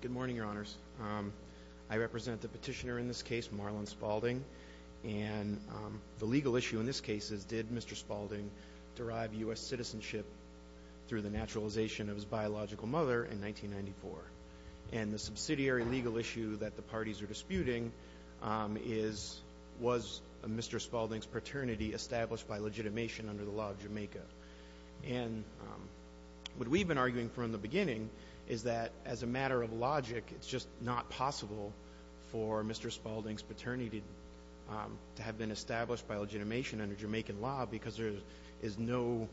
Good morning, Your Honors. I represent the petitioner in this case, Marlon Spaulding. And the legal issue in this case is, did Mr. Spaulding derive U.S. citizenship through the naturalization of his biological mother in 1994? And the subsidiary legal issue that the parties are disputing is, was Mr. Spaulding's paternity established by legitimation under the law of Jamaica? And what we've been arguing from the beginning is that, as a matter of logic, it's just not possible for Mr. Spaulding's paternity to have been established by legitimation under Jamaican law because there is no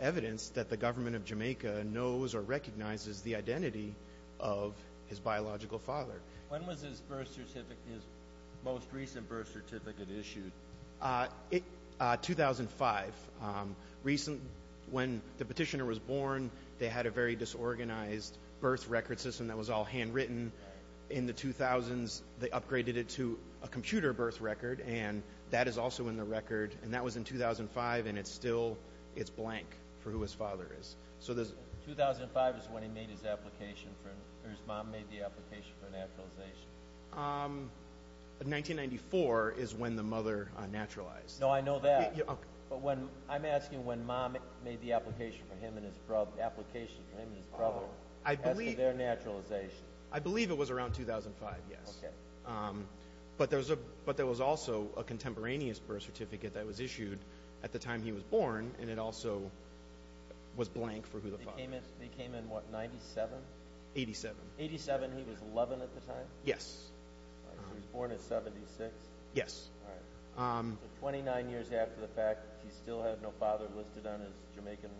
evidence that the government of Jamaica knows or recognizes the identity of his biological father. When was his birth certificate, his most recent birth certificate issued? 2005. When the petitioner was born, they had a very disorganized birth record system that was all handwritten. In the 2000s, they upgraded it to a computer birth record, and that is also in the record. And that was in 2005, and it's still blank for who his father is. 2005 is when he made his application, or his mom made the application for naturalization. 1994 is when the mother naturalized. No, I know that. But I'm asking when mom made the application for him and his brother as to their naturalization. I believe it was around 2005, yes. But there was also a contemporaneous birth certificate that was issued at the time he was born, and it also was blank for who the father is. He came in, what, 97? 87. 87, he was 11 at the time? Yes. He was born at 76? Yes. All right. So 29 years after the fact, he still had no father listed on his Jamaican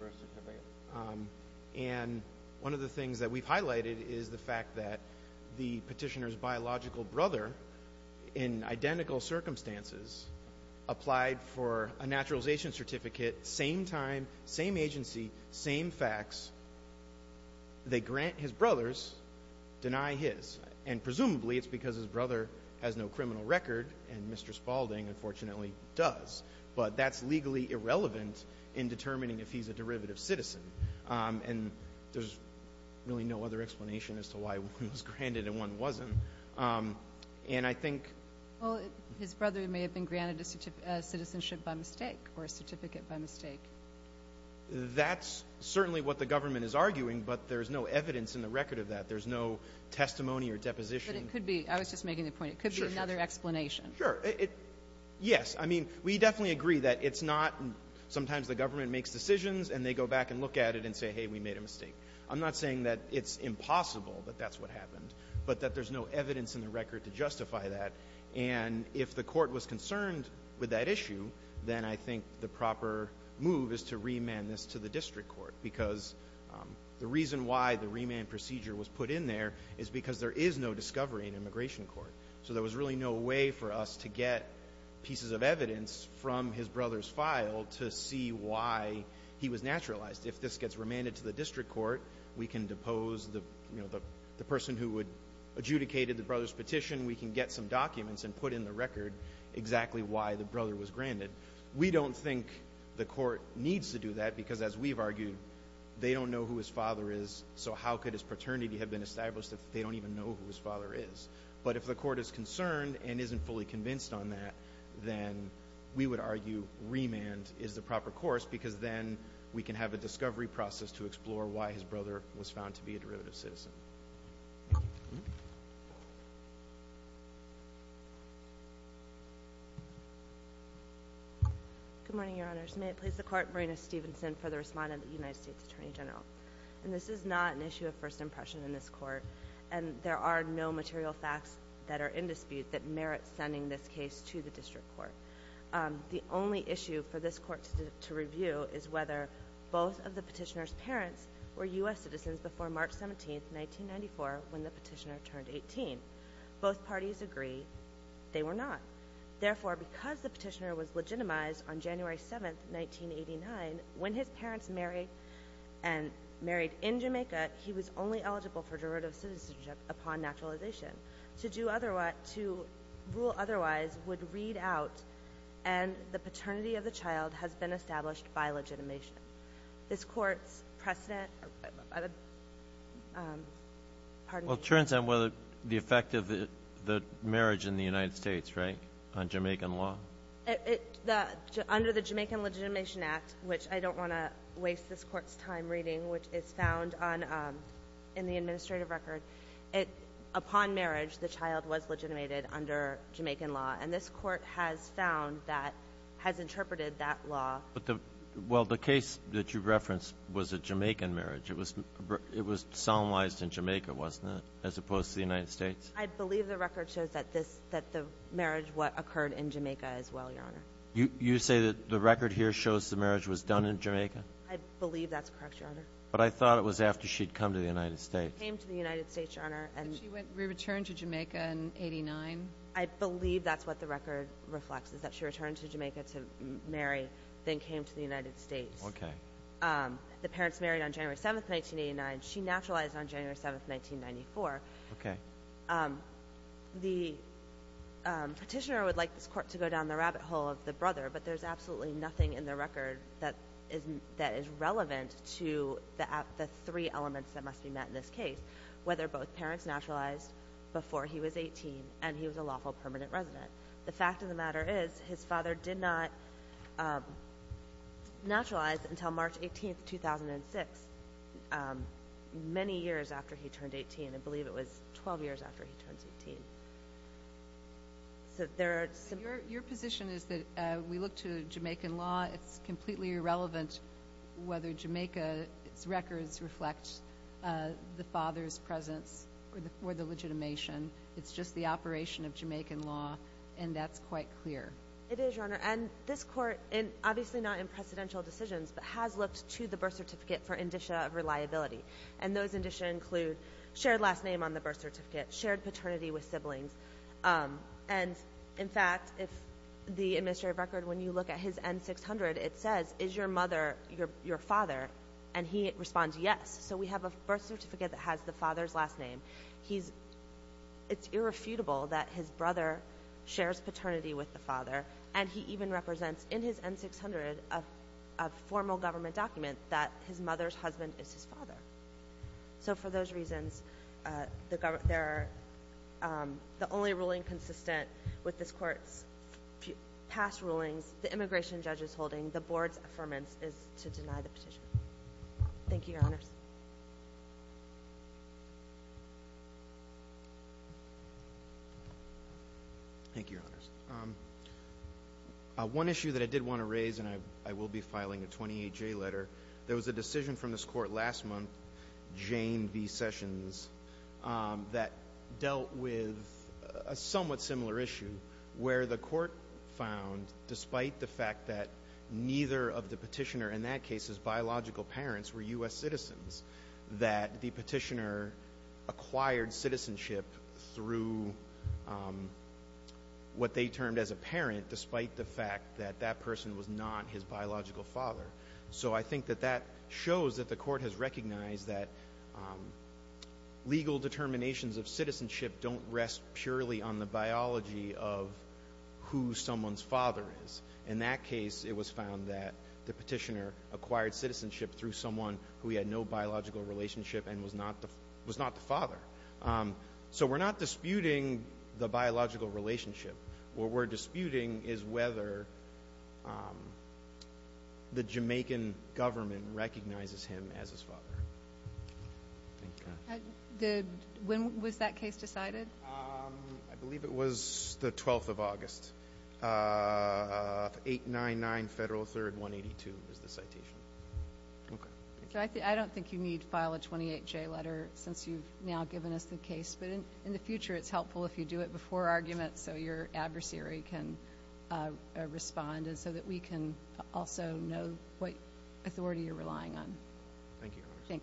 birth certificate? Yes. And one of the things that we've highlighted is the fact that the petitioner's biological brother, in identical circumstances, applied for a naturalization certificate, same time, same agency, same facts. They grant his brother's, deny his. And presumably it's because his brother has no criminal record, and Mr. Spaulding, unfortunately, does. But that's legally irrelevant in determining if he's a derivative citizen. And there's really no other explanation as to why one was granted and one wasn't. And I think his brother may have been granted a citizenship by mistake or a certificate by mistake. That's certainly what the government is arguing, but there's no evidence in the record of that. There's no testimony or deposition. But it could be. I was just making the point. It could be another explanation. Sure. Yes. I mean, we definitely agree that it's not sometimes the government makes decisions and they go back and look at it and say, hey, we made a mistake. I'm not saying that it's impossible that that's what happened, but that there's no evidence in the record to justify that. And if the court was concerned with that issue, then I think the proper move is to remand this to the district court. Because the reason why the remand procedure was put in there is because there is no discovery in immigration court. So there was really no way for us to get pieces of evidence from his brother's file to see why he was naturalized. If this gets remanded to the district court, we can depose the person who adjudicated the brother's petition. We can get some documents and put in the record exactly why the brother was granted. We don't think the court needs to do that because, as we've argued, they don't know who his father is, so how could his paternity have been established if they don't even know who his father is? But if the court is concerned and isn't fully convinced on that, then we would argue remand is the proper course because then we can have a discovery process to explore why his brother was found to be a derivative citizen. Thank you. Good morning, Your Honors. May it please the Court, Marina Stevenson for the respondent, the United States Attorney General. And this is not an issue of first impression in this court, and there are no material facts that are in dispute that merit sending this case to the district court. The only issue for this court to review is whether both of the petitioner's parents were U.S. citizens before March 17, 1994, when the petitioner turned 18. Both parties agree they were not. Therefore, because the petitioner was legitimized on January 7, 1989, when his parents married in Jamaica, he was only eligible for derivative citizenship upon naturalization. To rule otherwise would read out, and the paternity of the child has been established by legitimation. This court's precedent of a pardon me. Well, it turns out whether the effect of the marriage in the United States, right, on Jamaican law. Under the Jamaican Legitimation Act, which I don't want to waste this court's time reading, which is found in the administrative record, upon marriage, the child was legitimated under Jamaican law. And this court has found that, has interpreted that law. Well, the case that you referenced was a Jamaican marriage. It was solemnized in Jamaica, wasn't it, as opposed to the United States? I believe the record shows that the marriage occurred in Jamaica as well, Your Honor. You say that the record here shows the marriage was done in Jamaica? I believe that's correct, Your Honor. But I thought it was after she'd come to the United States. She came to the United States, Your Honor. Did she return to Jamaica in 89? I believe that's what the record reflects, is that she returned to Jamaica to marry, then came to the United States. Okay. The parents married on January 7, 1989. She naturalized on January 7, 1994. Okay. The petitioner would like this court to go down the rabbit hole of the brother, but there's absolutely nothing in the record that is relevant to the three elements that must be met in this case, whether both parents naturalized before he was 18 and he was a lawful permanent resident. The fact of the matter is his father did not naturalize until March 18, 2006, many years after he turned 18. I believe it was 12 years after he turned 18. Your position is that we look to Jamaican law, it's completely irrelevant whether Jamaica's records reflect the father's presence or the legitimation. It's just the operation of Jamaican law, and that's quite clear. It is, Your Honor. And this court, obviously not in precedential decisions, but has looked to the birth certificate for indicia of reliability, and those indicia include shared last name on the birth certificate, shared paternity with siblings. And, in fact, if the administrative record, when you look at his N-600, it says, is your mother your father? And he responds yes. So we have a birth certificate that has the father's last name. It's irrefutable that his brother shares paternity with the father, and he even represents in his N-600 a formal government document that his mother's husband is his father. So for those reasons, the only ruling consistent with this Court's past rulings, the immigration judge's holding, the Board's affirmance, is to deny the petition. Thank you, Your Honors. Thank you, Your Honors. One issue that I did want to raise, and I will be filing a 28-J letter, there was a decision from this Court last month, Jane v. Sessions, that dealt with a somewhat similar issue where the Court found, despite the fact that neither of the petitioner, in that case his biological parents, were U.S. citizens, that the petitioner acquired citizenship through what they termed as a parent, despite the fact that that person was not his biological father. So I think that that shows that the Court has recognized that legal determinations of citizenship don't rest purely on the biology of who someone's father is. In that case, it was found that the petitioner acquired citizenship through someone who he had no biological relationship and was not the father. So we're not disputing the biological relationship. What we're disputing is whether the Jamaican government recognizes him as his father. When was that case decided? I believe it was the 12th of August. 899 Federal 3rd 182 is the citation. I don't think you need to file a 28-J letter since you've now given us the case, but in the future it's helpful if you do it before arguments so your adversary can respond and so that we can also know what authority you're relying on. Thank you, Your Honors. Thank you.